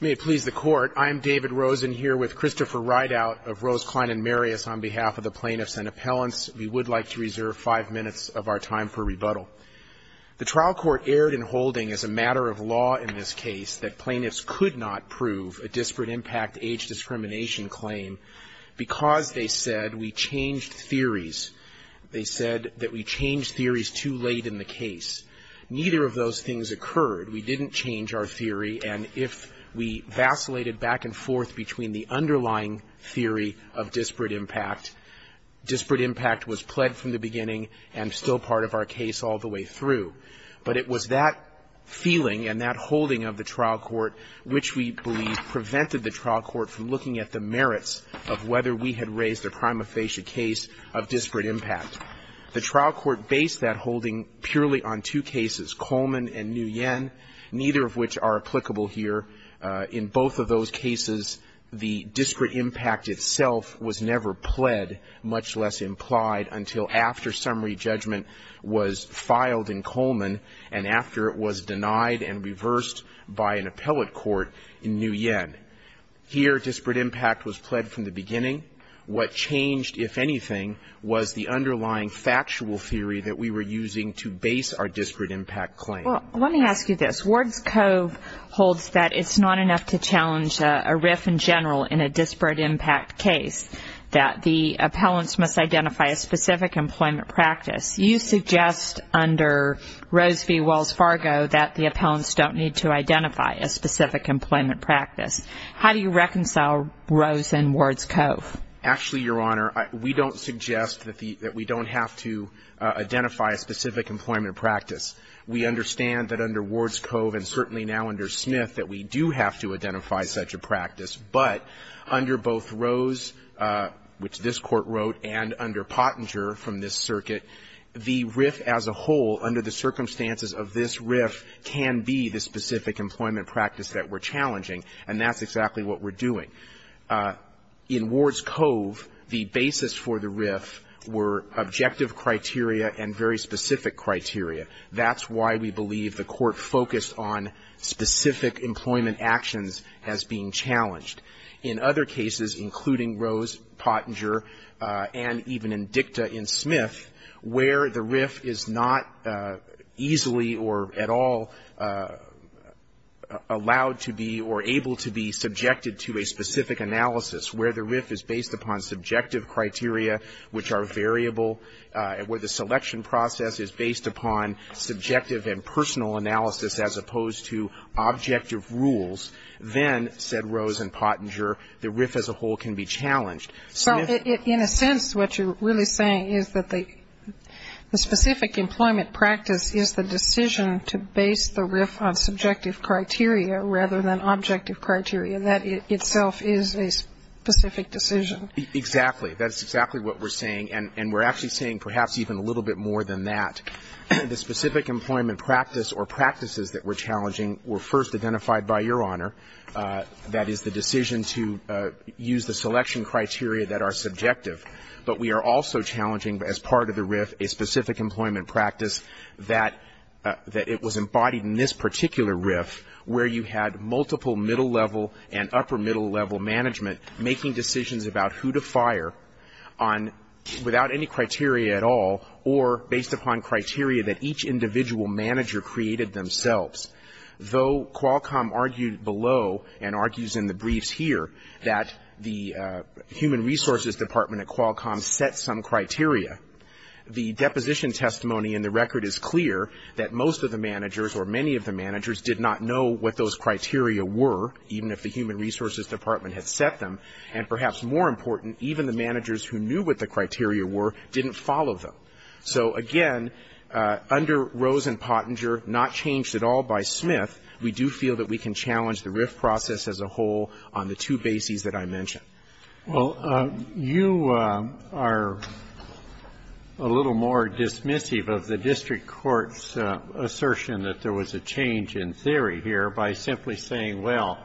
May it please the Court, I'm David Rosen here with Christopher Rideout of Rose, Klein & Marius on behalf of the Plaintiffs and Appellants. We would like to reserve five minutes of our time for rebuttal. The trial court erred in holding as a matter of law in this case that plaintiffs could not prove a disparate impact age discrimination claim because they said we changed theories. They said that we changed theories too late in the case. Neither of those things occurred. We didn't change our theory, and if we vacillated back and forth between the underlying theory of disparate impact, disparate impact was pled from the beginning and still part of our case all the way through. But it was that feeling and that holding of the trial court which we believe prevented the trial court from looking at the merits of whether we had raised a prima facie case of disparate impact. The trial court based that holding purely on two cases, Coleman and Nguyen, neither of which are applicable here. In both of those cases, the disparate impact itself was never pled, much less implied, until after summary judgment was filed in Coleman and after it was denied and reversed by an appellate court in Nguyen. Here, disparate impact was pled from the beginning. What changed, if anything, was the underlying factual theory that we were using to base our disparate impact claim. Well, let me ask you this. Ward's Cove holds that it's not enough to challenge a RIF in general in a disparate impact case, that the appellants must identify a specific employment practice. You suggest under Rose v. Wells Fargo that the appellants don't need to identify a specific employment practice. How do you reconcile Rose and Ward's Cove? Actually, Your Honor, we don't suggest that we don't have to identify a specific employment practice. We understand that under Ward's Cove and certainly now under Smith that we do have to identify such a practice. But under both Rose, which this Court wrote, and under Pottinger from this circuit, the RIF as a whole, under the circumstances of this RIF, can be the specific employment practice that we're challenging, and that's exactly what we're doing. In Ward's Cove, the basis for the RIF were objective criteria and very specific criteria. That's why we believe the Court focused on specific employment actions as being challenged. In other cases, including Rose, Pottinger, and even in Dicta in Smith, where the RIF is not easily or at all allowed to be or able to be subjected to a specific analysis, where the RIF is based upon subjective criteria, which are variable, where the selection process is based upon subjective and personal analysis as opposed to objective rules, then, said Rose and Pottinger, the RIF as a whole can be challenged. So in a sense, what you're really saying is that the specific employment practice is the decision to base the RIF on subjective criteria rather than objective criteria. That itself is a specific decision. Exactly. That's exactly what we're saying. And we're actually saying perhaps even a little bit more than that. The specific employment practice or practices that we're challenging were first identified by Your Honor. That is the decision to use the selection criteria that are subjective. But we are also challenging as part of the RIF a specific employment practice that it was embodied in this particular RIF, where you had multiple middle-level and upper-middle-level management making decisions about who to fire on, without any criteria at all, or based upon criteria that each individual manager created themselves. Though Qualcomm argued below, and argues in the briefs here, that the Human Resources Department at Qualcomm set some criteria, the deposition testimony in the record is clear that most of the managers or many of the managers did not know what those criteria were, even if the Human Resources Department had set them. And perhaps more important, even the managers who knew what the criteria were didn't follow them. So, again, under Rose and Pottinger, not changed at all by Smith, we do feel that we can challenge the RIF process as a whole on the two bases that I mentioned. Well, you are a little more dismissive of the district court's assertion that there was a change in theory here by simply saying, well,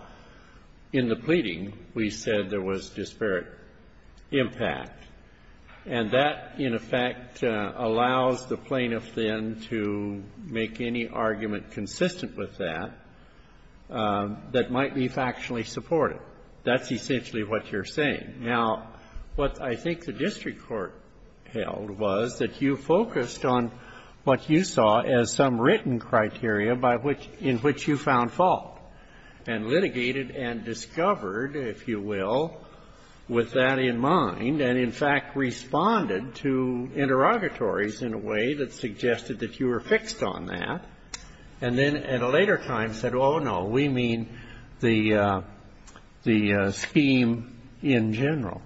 in the pleading, we said there was disparate impact. And that, in effect, allows the plaintiff then to make any argument consistent with that that might be factually supported. That's essentially what you're saying. Now, what I think the district court held was that you focused on what you saw as some written criteria by which you found fault, and litigated and discovered, if you will, with that in mind, and, in fact, responded to interrogatories in a way that suggested that you were fixed on that, and then at a later time said, oh, no, we mean the scheme in general.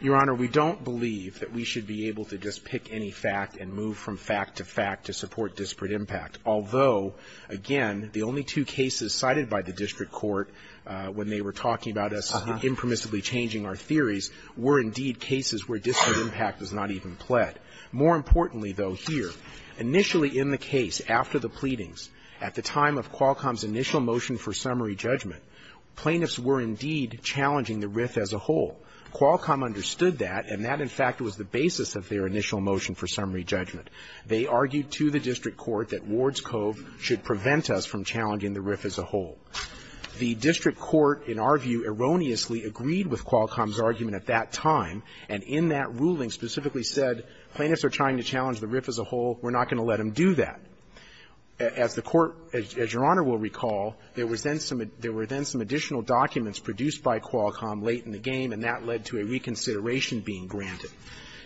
Your Honor, we don't believe that we should be able to just pick any fact and move from fact to fact to support disparate impact, although, again, the only two cases cited by the district court when they were talking about us impermissibly changing our theories were indeed cases where disparate impact was not even pled. More importantly, though, here, initially in the case, after the pleadings, at the time of Qualcomm's initial motion for summary judgment, plaintiffs were indeed challenging the RIF as a whole. Qualcomm understood that, and that, in fact, was the basis of their initial motion for summary judgment. They argued to the district court that Ward's Cove should prevent us from challenging the RIF as a whole. The district court, in our view, erroneously agreed with Qualcomm's argument at that time, and in that ruling specifically said, plaintiffs are trying to challenge the RIF as a whole. We're not going to let them do that. As the court, as Your Honor will recall, there was then some additional documents produced by Qualcomm late in the game, and that led to a reconsideration being granted.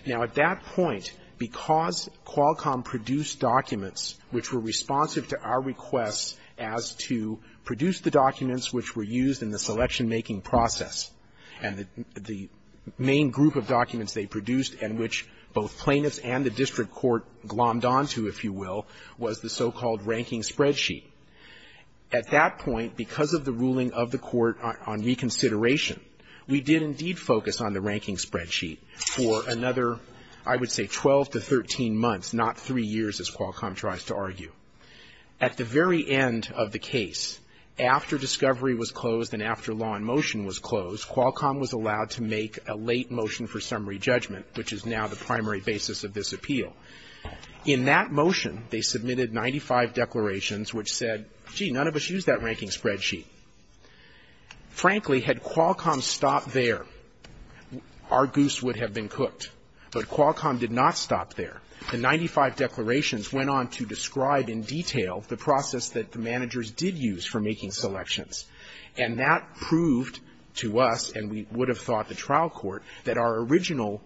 Now, at that point, because Qualcomm produced documents which were responsive to our requests as to produce the documents which were used in the selection-making process, and the main group of documents they produced and which both plaintiffs and the district court glommed on to, if you will, was the so-called ranking spreadsheet. At that point, because of the ruling of the court on reconsideration, we did indeed focus on the ranking spreadsheet for another, I would say, 12 to 13 months, not three years, as Qualcomm tries to argue. At the very end of the case, after discovery was closed and after law in motion was closed, Qualcomm was allowed to make a late motion for summary judgment, which is now the primary basis of this appeal. In that motion, they submitted 95 declarations which said, gee, none of us used that ranking spreadsheet. Frankly, had Qualcomm stopped there, our goose would have been cooked. But Qualcomm did not stop there. The 95 declarations went on to describe in detail the process that the managers did use for making selections. And that proved to us, and we would have thought the trial court, that our original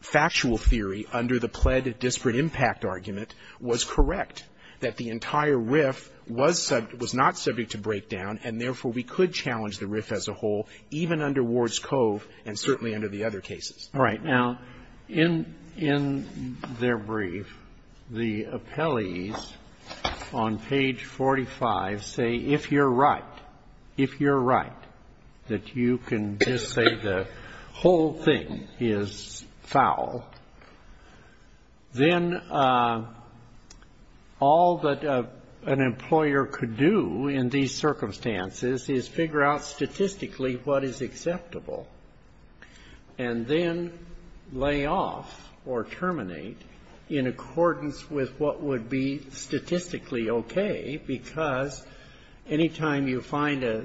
factual theory under the pled disparate impact argument was correct, that the entire case was correct. We did not use the ranking spreadsheet to break down, and therefore we could challenge the RIF as a whole, even under Ward's Cove and certainly under the other cases. Roberts. Right. Now, in their brief, the appellees on page 45 say, if you're right, if you're right, that you can just say the whole thing is foul, then all that an employer could do in these circumstances is figure out statistically what is acceptable and then lay off or terminate in accordance with what would be statistically okay, because any time you find a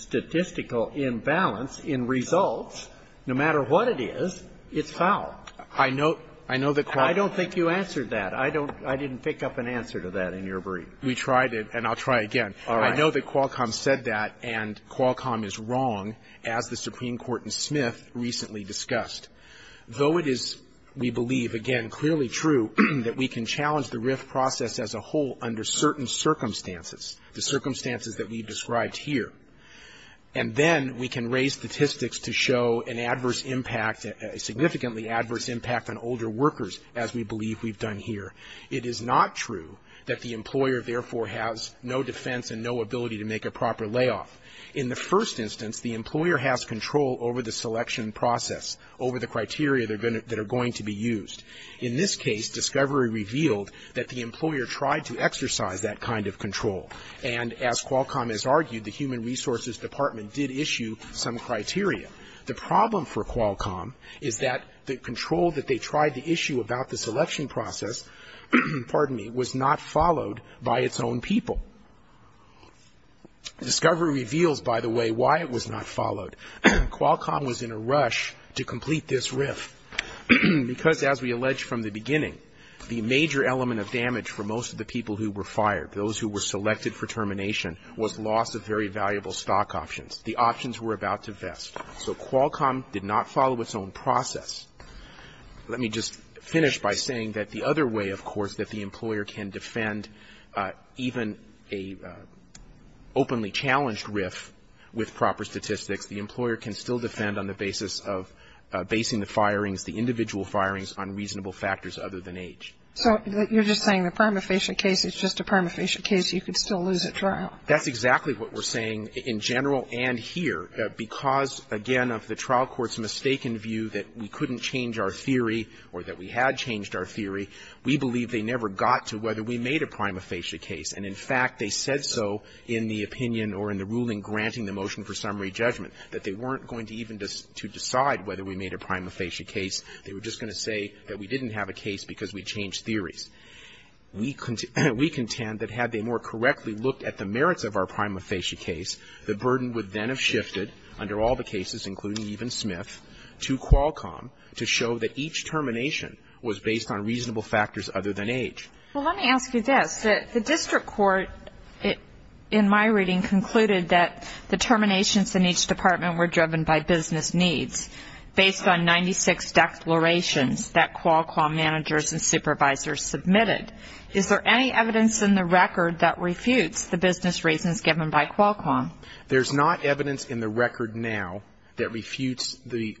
statistical imbalance in results, no matter what it is, it's foul. I know that Qualcomm ---- I don't think you answered that. I don't ---- I didn't pick up an answer to that in your brief. We tried it, and I'll try again. All right. I know that Qualcomm said that, and Qualcomm is wrong, as the Supreme Court in Smith recently discussed. Though it is, we believe, again, clearly true that we can challenge the RIF process as a whole under certain circumstances, the circumstances that we've described here. And then we can raise statistics to show an adverse impact, a significantly adverse impact on older workers, as we believe we've done here. It is not true that the employer, therefore, has no defense and no ability to make a proper layoff. In the first instance, the employer has control over the selection process, over the criteria that are going to be used. In this case, discovery revealed that the employer tried to exercise that kind of control. And as Qualcomm has argued, the Human Resources Department did issue some criteria. The problem for Qualcomm is that the control that they tried to issue about the selection process was not followed by its own people. Discovery reveals, by the way, why it was not followed. Qualcomm was in a rush to complete this RIF. Because, as we alleged from the beginning, the major element of damage for most of the people who were fired, those who were selected for termination, was loss of very valuable stock options. The options were about to vest. So Qualcomm did not follow its own process. Let me just finish by saying that the other way, of course, that the employer can defend even a openly challenged RIF with proper statistics, the employer can still defend on the basis of basing the firings, the individual firings, on reasonable factors other than age. So you're just saying the prima facie case is just a prima facie case. You could still lose at trial. That's exactly what we're saying in general and here. Because, again, of the trial court's mistaken view that we couldn't change our theory or that we had changed our theory, we believe they never got to whether we made a prima facie case. And, in fact, they said so in the opinion or in the ruling granting the motion for summary judgment, that they weren't going to even decide whether we made a prima facie case. They were just going to say that we didn't have a case because we changed theories. We contend that had they more correctly looked at the merits of our prima facie case, the burden would then have shifted under all the cases, including even Smith, to Qualcomm to show that each termination was based on reasonable factors other than age. Well, let me ask you this. The district court, in my reading, concluded that the terminations in each department were driven by business needs based on 96 declarations that Qualcomm managers and supervisors submitted. Is there any evidence in the record that refutes the business reasons given by Qualcomm? There's not evidence in the record now that refutes the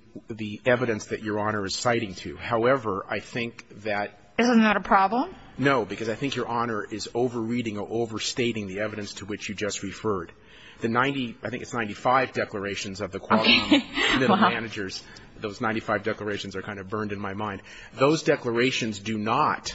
evidence that Your Honor is citing to. However, I think that ---- Isn't that a problem? No, because I think Your Honor is over-reading or over-stating the evidence to which you just referred. The 90, I think it's 95 declarations of the Qualcomm managers, those 95 declarations are kind of burned in my mind. Those declarations do not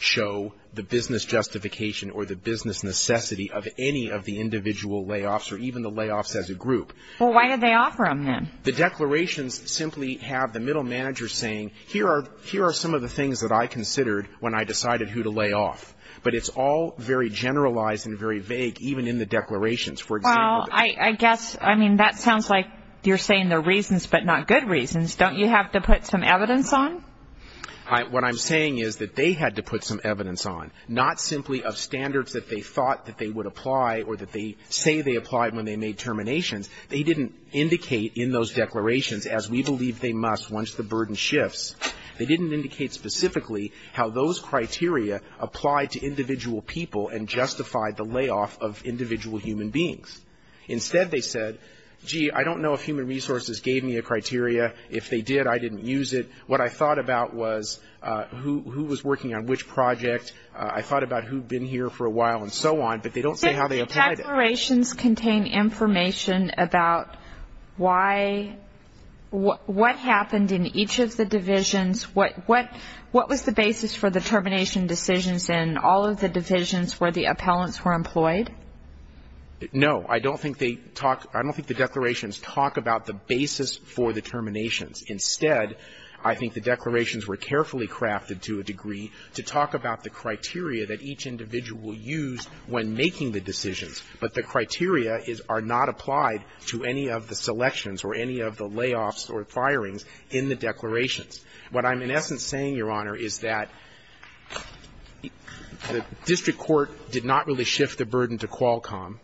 show the business justification or the business necessity of any of the individual layoffs or even the layoffs as a group. Well, why did they offer them then? The declarations simply have the middle manager saying, here are some of the things that I considered when I decided who to lay off. But it's all very generalized and very vague, even in the declarations, for example. Well, I guess, I mean, that sounds like you're saying they're reasons but not good reasons. Don't you have to put some evidence on? What I'm saying is that they had to put some evidence on, not simply of standards that they thought that they would apply or that they say they applied when they made terminations. They didn't indicate in those declarations, as we believe they must once the burden shifts, they didn't indicate specifically how those criteria applied to individual people and justified the layoff of individual human beings. Instead, they said, gee, I don't know if human resources gave me a criteria. If they did, I didn't use it. What I thought about was who was working on which project. I thought about who had been here for a while and so on, but they don't say how they applied it. Do the declarations contain information about why, what happened in each of the divisions? What was the basis for the termination decisions in all of the divisions where the appellants were employed? No. I don't think they talk – I don't think the declarations talk about the basis for the terminations. Instead, I think the declarations were carefully crafted to a degree to talk about the criteria that each individual will use when making the decisions, but the criteria are not applied to any of the selections or any of the layoffs or firings in the declarations. What I'm in essence saying, Your Honor, is that the district court did not really shift the burden to Qualcomm,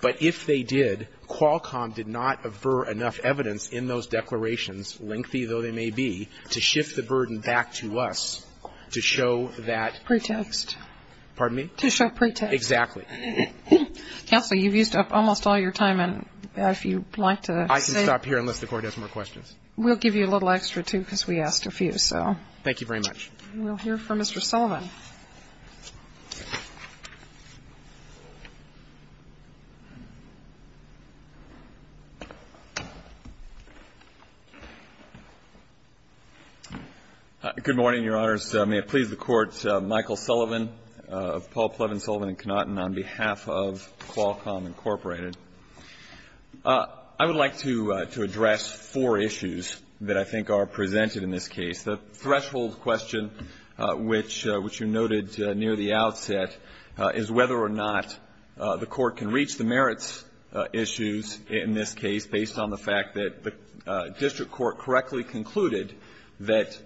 but if they did, Qualcomm did not aver enough evidence in those declarations, lengthy though they may be, to shift the burden back to us to show that – Pretext. Pardon me? To show pretext. Exactly. Counsel, you've used up almost all your time, and if you'd like to say – I can stop here unless the Court has more questions. We'll give you a little extra, too, because we asked a few, so. Thank you very much. We'll hear from Mr. Sullivan. Good morning, Your Honors. May it please the Court, Michael Sullivan of Paul Plevin Sullivan & Knotton on behalf of Qualcomm, Incorporated. I would like to address four issues that I think are presented in this case. The threshold question, which you noted near the outset, is whether or not the Court can reach the merits issues in this case based on the fact that the district court correctly concluded that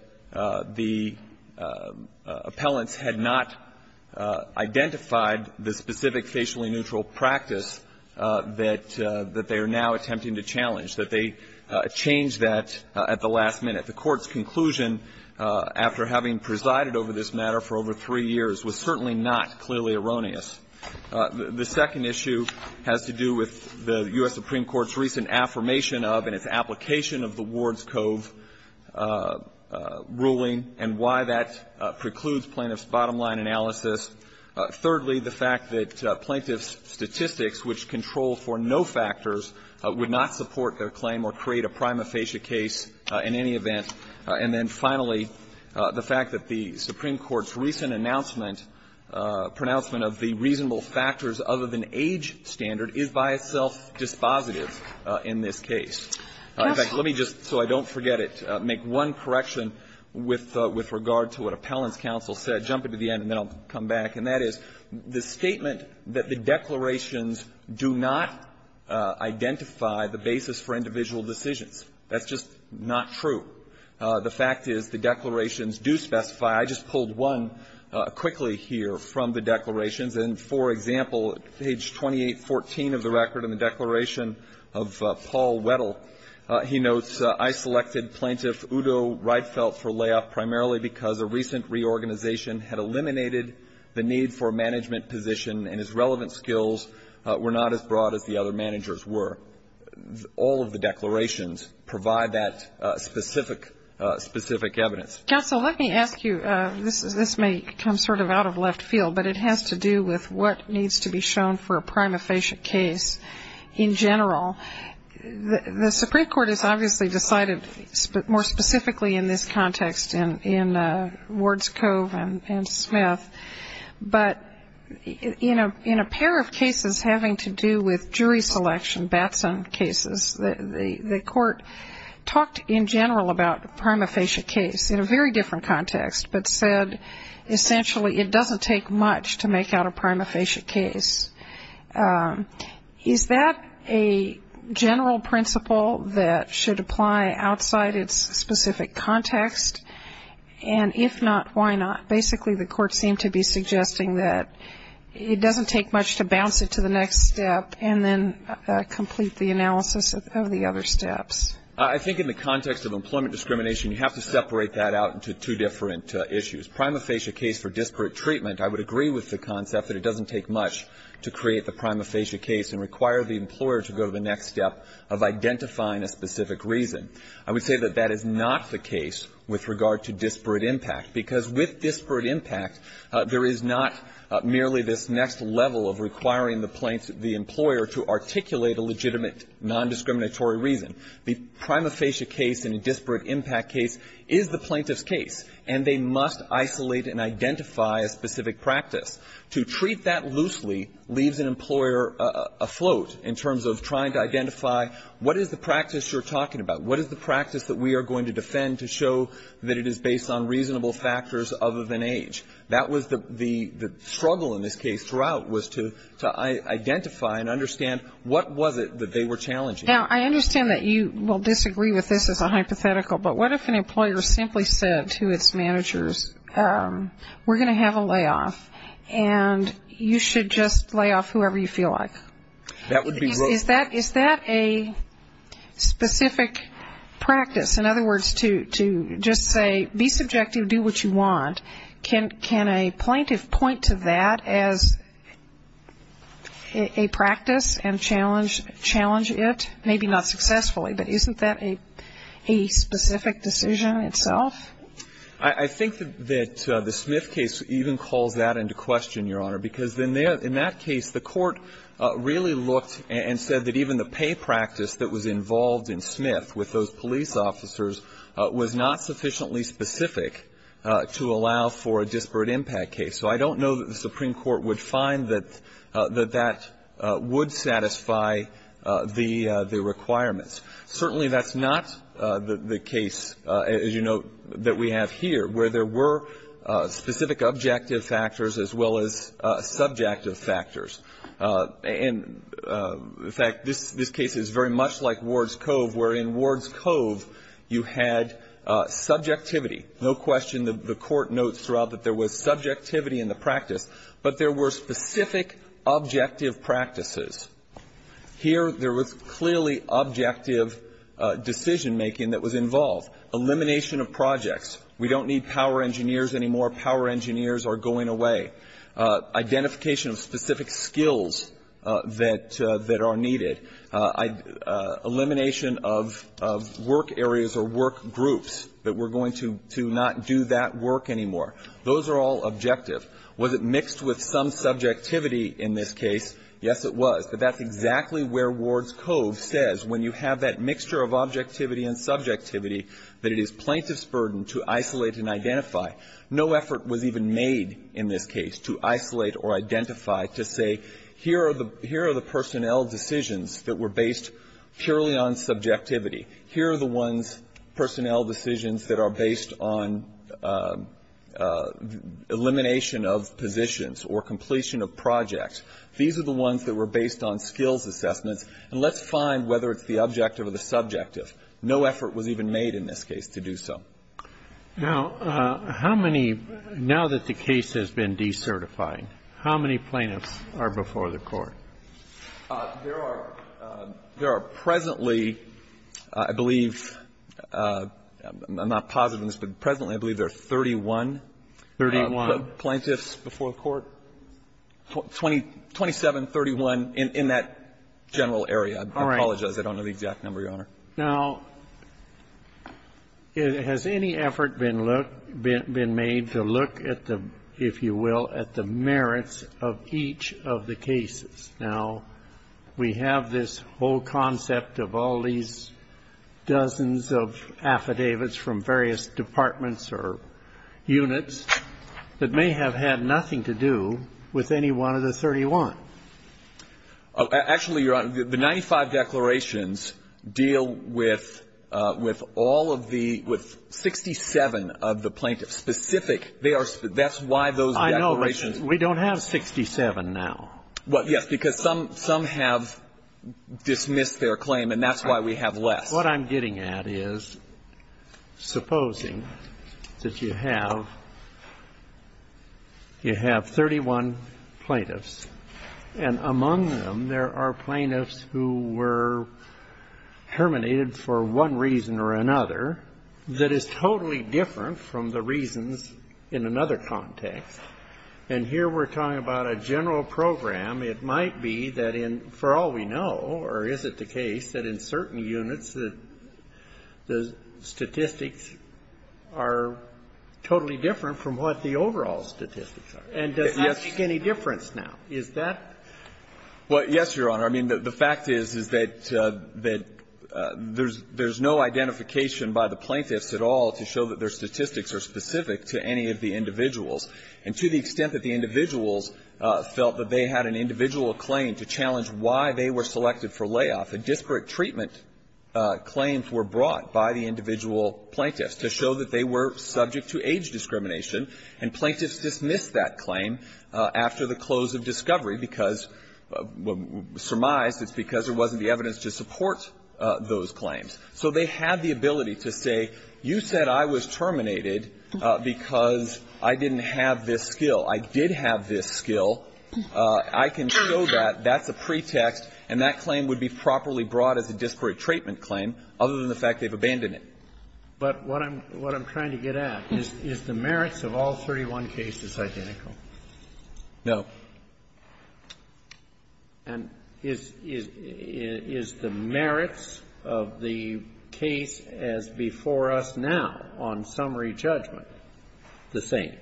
the appellants had not identified the specific facially neutral practice that they are now attempting to challenge, that they changed that at the last minute. I think the Court's conclusion, after having presided over this matter for over three years, was certainly not clearly erroneous. The second issue has to do with the U.S. Supreme Court's recent affirmation of and its application of the Ward's Cove ruling and why that precludes plaintiff's bottom-line analysis. Thirdly, the fact that plaintiff's statistics, which control for no factors, would not support their claim or create a prima facie case in any event. And then finally, the fact that the Supreme Court's recent announcement, pronouncement of the reasonable factors other than age standard, is by itself dispositive in this case. In fact, let me just, so I don't forget it, make one correction with regard to what Appellant's counsel said. Jump into the end, and then I'll come back. And that is, the statement that the declarations do not identify the basis for individual decisions, that's just not true. The fact is the declarations do specify. I just pulled one quickly here from the declarations. And, for example, page 2814 of the record in the declaration of Paul Weddle, he notes, I selected plaintiff Udo Reitfeldt for layoff primarily because a recent reorganization had eliminated the need for a management position and his relevant skills were not as broad as the other managers were. All of the declarations provide that specific evidence. Counsel, let me ask you, this may come sort of out of left field, but it has to do with what needs to be shown for a prima facie case in general. The Supreme Court has obviously decided more specifically in this context in Wards Cove and Smith, but in a pair of cases having to do with jury selection, Batson cases, the court talked in general about a prima facie case in a very different context, but said essentially it doesn't take much to make out a prima facie case. Is that a general principle that should apply outside its specific context? And if not, why not? Basically the court seemed to be suggesting that it doesn't take much to bounce it to the next step and then complete the analysis of the other steps. I think in the context of employment discrimination, you have to separate that out into two different issues. Prima facie case for disparate treatment, I would agree with the concept that it doesn't take much to create the prima facie case and require the employer to go to the next step of identifying a specific reason. I would say that that is not the case with regard to disparate impact, because with disparate impact, there is not merely this next level of requiring the plaintiff, the employer, to articulate a legitimate nondiscriminatory reason. The prima facie case in a disparate impact case is the plaintiff's case, and they must isolate and identify a specific practice. To treat that loosely leaves an employer afloat in terms of trying to identify what is the practice you're talking about? What is the practice that we are going to defend to show that it is based on reasonable factors other than age? That was the struggle in this case throughout, was to identify and understand what was it that they were challenging. Now, I understand that you will disagree with this as a hypothetical, but what if an employer simply said to its managers, we're going to have a layoff, and you should just layoff whoever you feel like? Is that a specific practice? In other words, to just say, be subjective, do what you want. Can a plaintiff point to that as a practice and challenge it? Maybe not successfully, but isn't that a specific decision itself? I think that the Smith case even calls that into question, Your Honor, because in that case, the court really looked and said that even the pay practice that was involved in Smith with those police officers was not sufficiently specific to allow for a disparate impact case. So I don't know that the Supreme Court would find that that would satisfy the requirements. Certainly, that's not the case, as you note, that we have here, where there were specific objective factors as well as subjective factors. And, in fact, this case is very much like Ward's Cove, where in Ward's Cove, you had subjectivity. No question, the court notes throughout that there was subjectivity in the practice, but there were specific objective practices. Here, there was clearly objective decision-making that was involved. Elimination of projects. We don't need power engineers anymore. Power engineers are going away. Identification of specific skills that are needed. Elimination of work areas or work groups. But we're going to not do that work anymore. Those are all objective. Was it mixed with some subjectivity in this case? Yes, it was. But that's exactly where Ward's Cove says, when you have that mixture of objectivity was even made in this case to isolate or identify, to say, here are the personnel decisions that were based purely on subjectivity. Here are the ones, personnel decisions that are based on elimination of positions or completion of projects. These are the ones that were based on skills assessments. And let's find whether it's the objective or the subjective. No effort was even made in this case to do so. Now, how many, now that the case has been decertified, how many plaintiffs are before the Court? There are presently, I believe, I'm not positive on this, but presently I believe there are 31. 31. Plaintiffs before the Court. 27, 31 in that general area. I apologize, I don't know the exact number, Your Honor. Now, has any effort been looked, been made to look at the, if you will, at the merits of each of the cases? Now, we have this whole concept of all these dozens of affidavits from various departments or units that may have had nothing to do with any one of the 31. Actually, Your Honor, the 95 declarations deal with all of the, with 67 of the plaintiffs. Specific, they are, that's why those declarations. I know, but we don't have 67 now. Well, yes, because some have dismissed their claim, and that's why we have less. Well, what I'm getting at is supposing that you have, you have 31 plaintiffs, and among them there are plaintiffs who were terminated for one reason or another that is totally different from the reasons in another context. And here we're talking about a general program. It might be that in, for all we know, or is it the case, that in certain units the statistics are totally different from what the overall statistics are. And does that make any difference now? Is that? Well, yes, Your Honor. I mean, the fact is, is that there's no identification by the plaintiffs at all to show that their statistics are specific to any of the individuals. And to the extent that the individuals felt that they had an individual claim to challenge why they were selected for layoff, a disparate treatment claims were brought by the individual plaintiffs to show that they were subject to age discrimination. And plaintiffs dismissed that claim after the close of discovery because, surmised it's because there wasn't the evidence to support those claims. So they had the ability to say, you said I was terminated because I didn't have this skill. I did have this skill. I can show that. That's a pretext. And that claim would be properly brought as a disparate treatment claim, other than the fact they've abandoned it. But what I'm trying to get at is, is the merits of all 31 cases identical? No. And is the merits of the case as before us now, on summary judgment, the same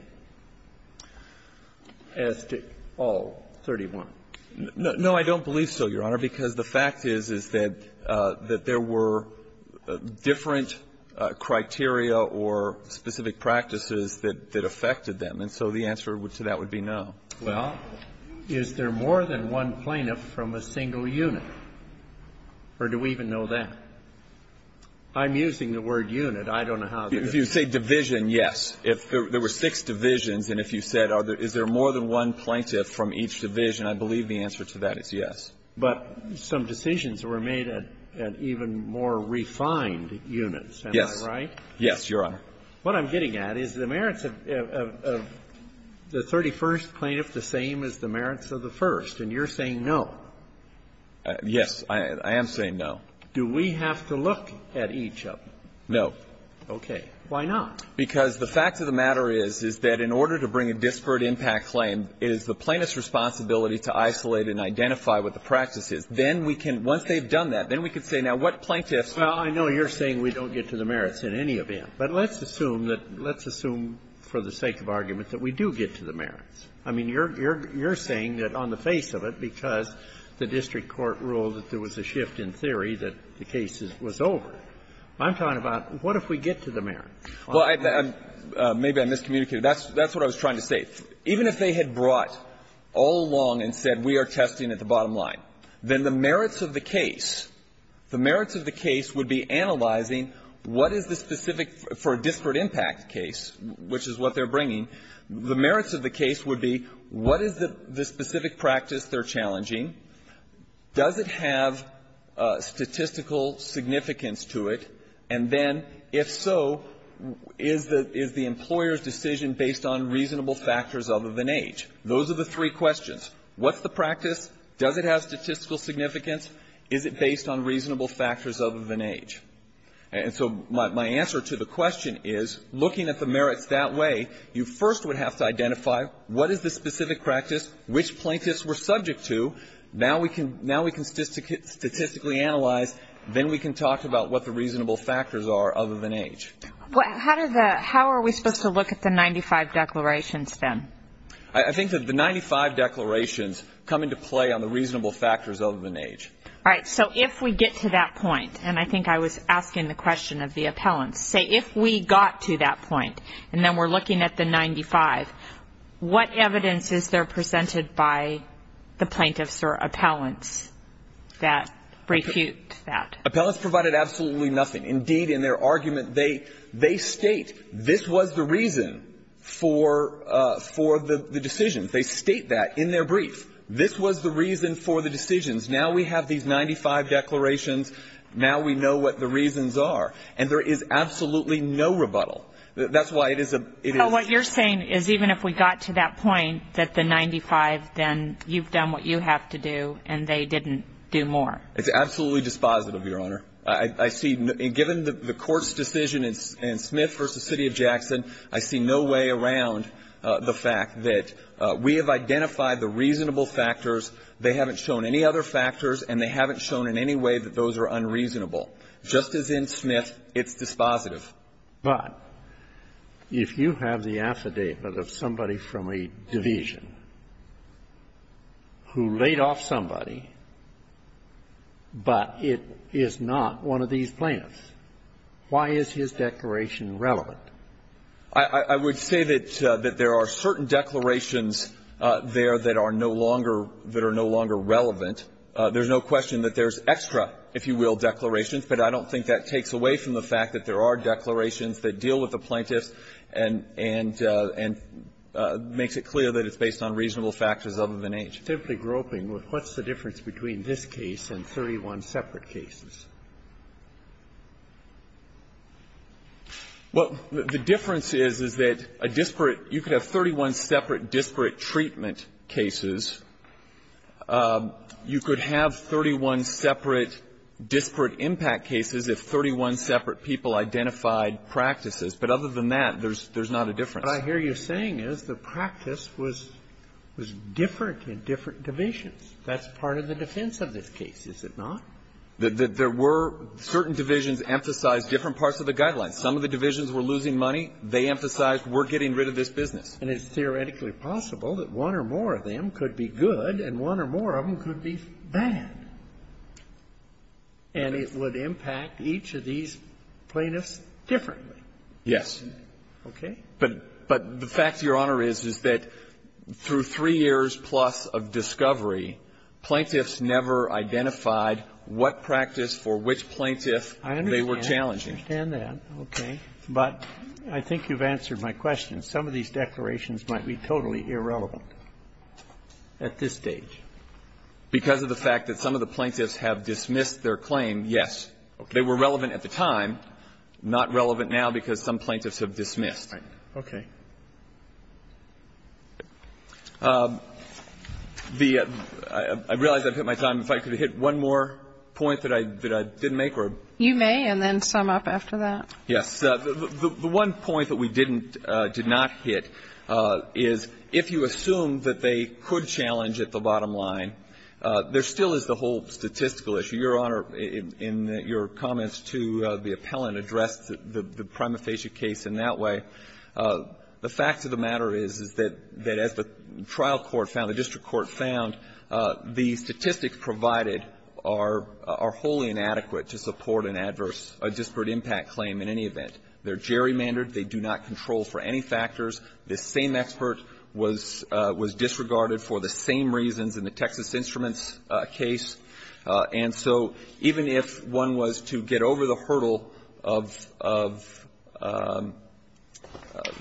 as to all 31? No. I don't believe so, Your Honor, because the fact is, is that there were different criteria or specific practices that affected them. And so the answer to that would be no. Well, is there more than one plaintiff from a single unit? Or do we even know that? I'm using the word unit. I don't know how to do it. If you say division, yes. If there were six divisions, and if you said, is there more than one plaintiff from each division, I believe the answer to that is yes. But some decisions were made at even more refined units. Yes. Am I right? Yes, Your Honor. What I'm getting at is the merits of the 31st plaintiff the same as the merits of the first, and you're saying no. Yes. I am saying no. Do we have to look at each of them? No. Okay. Why not? Because the fact of the matter is, is that in order to bring a disparate impact claim, it is the plaintiff's responsibility to isolate and identify what the practice is. Then we can, once they've done that, then we can say, now, what plaintiff's claim? Well, I know you're saying we don't get to the merits in any of them. But let's assume that, let's assume for the sake of argument that we do get to the merits. I mean, you're saying that on the face of it, because the district court ruled that there was a shift in theory that the case was over, I'm talking about what if we get to the merits? Well, maybe I miscommunicated. That's what I was trying to say. Even if they had brought all along and said we are testing at the bottom line, then the merits of the case, the merits of the case would be analyzing what is the specific for a disparate impact case, which is what they're bringing. The merits of the case would be what is the specific practice they're challenging? Does it have statistical significance to it? And then, if so, is the employer's decision based on reasonable factors other than age? Those are the three questions. What's the practice? Does it have statistical significance? Is it based on reasonable factors other than age? And so my answer to the question is, looking at the merits that way, you first would have to identify what is the specific practice, which plaintiffs were subject to. Now we can statistically analyze. Then we can talk about what the reasonable factors are other than age. I think that the 95 declarations come into play on the reasonable factors other than age. All right. So if we get to that point, and I think I was asking the question of the appellants. Say if we got to that point, and then we're looking at the 95, what evidence is there presented by the plaintiffs or appellants that refute that? Appellants provided absolutely nothing. Indeed, in their argument, they state this was the reason for the decision. They state that in their brief. This was the reason for the decisions. Now we have these 95 declarations. Now we know what the reasons are. And there is absolutely no rebuttal. That's why it is a — But what you're saying is even if we got to that point, that the 95, then you've done what you have to do, and they didn't do more. It's absolutely dispositive, Your Honor. I see — given the Court's decision in Smith v. City of Jackson, I see no way around the fact that we have identified the reasonable factors, they haven't shown any other factors, and they haven't shown in any way that those are unreasonable. Just as in Smith, it's dispositive. But if you have the affidavit of somebody from a division who laid off somebody, but it is not one of these plaintiffs, why is his declaration relevant? I would say that there are certain declarations there that are no longer relevant. There's no question that there's extra, if you will, declarations, but I don't think that takes away from the fact that there are declarations that deal with the plaintiffs and makes it clear that it's based on reasonable factors other than age. I'm just simply groping. What's the difference between this case and 31 separate cases? Well, the difference is, is that a disparate — you could have 31 separate disparate treatment cases. You could have 31 separate disparate impact cases if 31 separate people identified practices. But other than that, there's not a difference. What I hear you saying is the practice was different in different divisions. That's part of the defense of this case, is it not? There were certain divisions emphasized different parts of the guidelines. Some of the divisions were losing money. They emphasized we're getting rid of this business. And it's theoretically possible that one or more of them could be good and one or more of them could be bad, and it would impact each of these plaintiffs differently. Yes. Okay? But the fact, Your Honor, is, is that through three years plus of discovery, plaintiffs never identified what practice for which plaintiff they were challenging. I understand that, okay. But I think you've answered my question. Some of these declarations might be totally irrelevant at this stage. Because of the fact that some of the plaintiffs have dismissed their claim, yes. They were relevant at the time, not relevant now because some plaintiffs have dismissed. Right. Okay. I realize I've hit my time. If I could hit one more point that I didn't make. You may, and then sum up after that. Yes. The one point that we didn't, did not hit is if you assume that they could challenge at the bottom line, there still is the whole statistical issue. Your Honor, in your comments to the appellant addressed the prima facie case in that way, the fact of the matter is, is that as the trial court found, the district court found, the statistics provided are wholly inadequate to support an adverse disparate impact claim in any event. They're gerrymandered. They do not control for any factors. This same expert was disregarded for the same reasons in the Texas Instruments case. And so even if one was to get over the hurdle of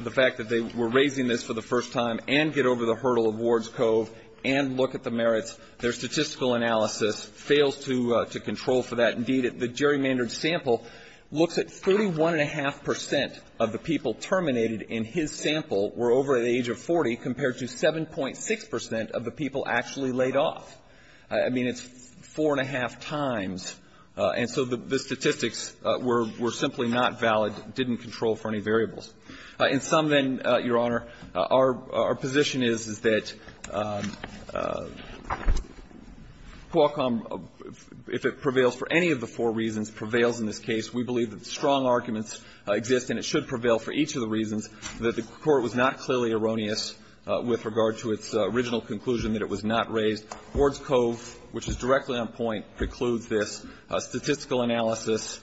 the fact that they were raising this for the first time and get over the hurdle of Ward's Cove and look at the merits, their statistical analysis fails to control for that. Indeed, the gerrymandered sample looks at 31.5 percent of the people terminated in his sample were over the age of 40, compared to 7.6 percent of the people actually laid off. I mean, it's four and a half times. And so the statistics were simply not valid, didn't control for any variables. In sum, then, Your Honor, our position is, is that Qualcomm, if it prevails for any of the four reasons, prevails in this case. We believe that strong arguments exist and it should prevail for each of the reasons that the Court was not clearly erroneous with regard to its original conclusion that it was not raised. Ward's Cove, which is directly on point, precludes this. Statistical analysis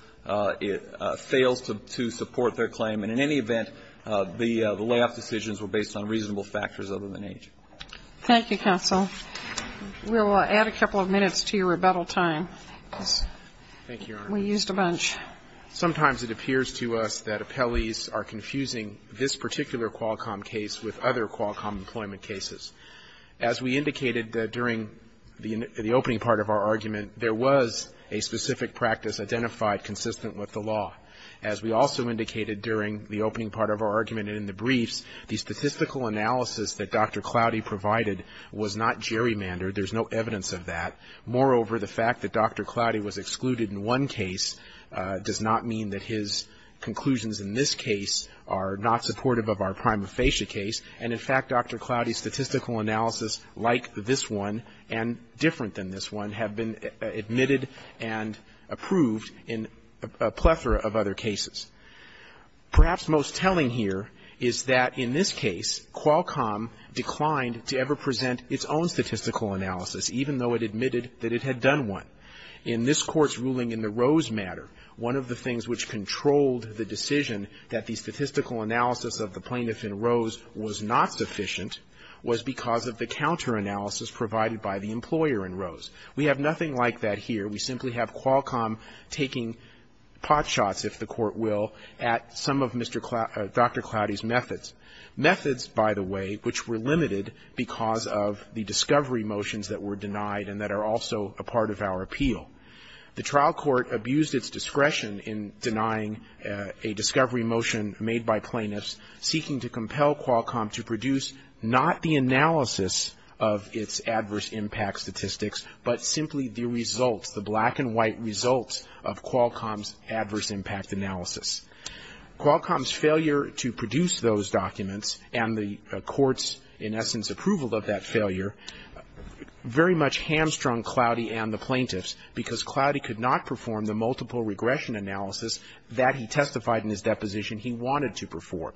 fails to support their claim. And in any event, the layoff decisions were based on reasonable factors other than age. Thank you, counsel. We will add a couple of minutes to your rebuttal time. Thank you, Your Honor. We used a bunch. Sometimes it appears to us that appellees are confusing this particular Qualcomm case with other Qualcomm employment cases. As we indicated during the opening part of our argument, there was a specific practice identified consistent with the law. As we also indicated during the opening part of our argument and in the briefs, the statistical analysis that Dr. Cloutie provided was not gerrymandered. There's no evidence of that. Moreover, the fact that Dr. Cloutie was excluded in one case does not mean that his conclusions in this case are not supportive of our prima facie case. And in fact, Dr. Cloutie's statistical analysis, like this one and different than this one, have been admitted and approved in a plethora of other cases. Perhaps most telling here is that in this case, Qualcomm declined to ever present its own statistical analysis, even though it admitted that it had done one. In this Court's ruling in the Rose matter, one of the things which controlled the decision that the statistical analysis of the plaintiff in Rose was not sufficient was because of the counteranalysis provided by the employer in Rose. We have nothing like that here. We simply have Qualcomm taking potshots, if the Court will, at some of Mr. Cloutie Dr. Cloutie's methods, methods, by the way, which were limited because of the discovery motions that were denied and that are also a part of our appeal. The trial court abused its discretion in denying a discovery motion made by plaintiffs seeking to compel Qualcomm to produce not the analysis of its adverse impact statistics, but simply the results, the black and white results of Qualcomm's adverse impact analysis. Qualcomm's failure to produce those documents and the Court's, in essence, approval of that failure very much hamstrung Cloutie and the plaintiffs because Cloutie could not perform the multiple regression analysis that he testified in his deposition he wanted to perform.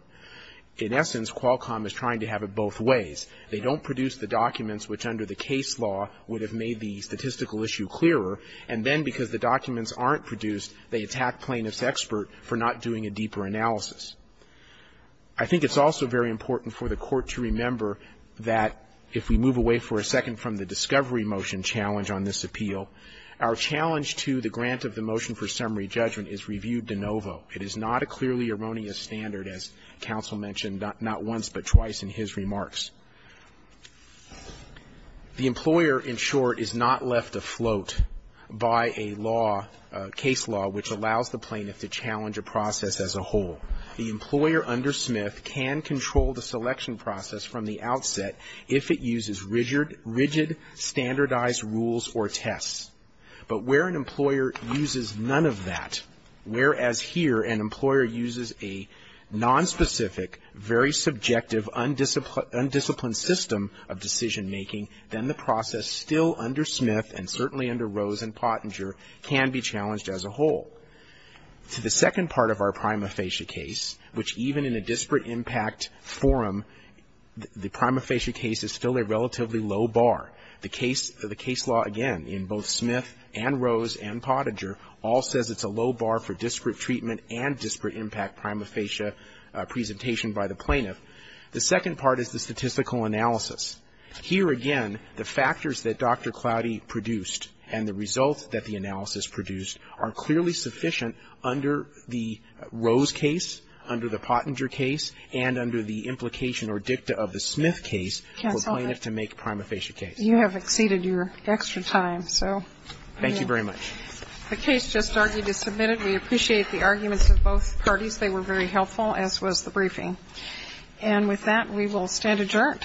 In essence, Qualcomm is trying to have it both ways. They don't produce the documents which under the case law would have made the statistical issue clearer, and then because the documents aren't produced, they attack plaintiff's expert for not doing a deeper analysis. I think it's also very important for the Court to remember that if we move away for a second from the discovery motion challenge on this appeal, our challenge to the grant of the motion for summary judgment is reviewed de novo. It is not a clearly erroneous standard, as counsel mentioned not once but twice in his remarks. The employer, in short, is not left afloat by a law, a case law, which allows the plaintiff to challenge a process as a whole. The employer under Smith can control the selection process from the outset if it uses rigid, standardized rules or tests. But where an employer uses none of that, whereas here an employer uses a nonspecific, very subjective, undisciplined system of decision making, then the process still under Smith and certainly under Rose and Pottinger can be challenged as a whole. The second part of our prima facie case, which even in a disparate impact forum, the prima facie case is still a relatively low bar. The case law, again, in both Smith and Rose and Pottinger all says it's a low bar for disparate treatment and disparate impact prima facie presentation by the plaintiff. The second part is the statistical analysis. Here again, the factors that Dr. Cloudy produced and the results that the analysis produced are clearly sufficient under the Rose case, under the Pottinger case, and under the implication or dicta of the Smith case for a plaintiff to make a prima facie case. You have exceeded your extra time, so. Thank you very much. The case just argued is submitted. We appreciate the arguments of both parties. They were very helpful, as was the briefing. And with that, we will stand adjourned. Thank you.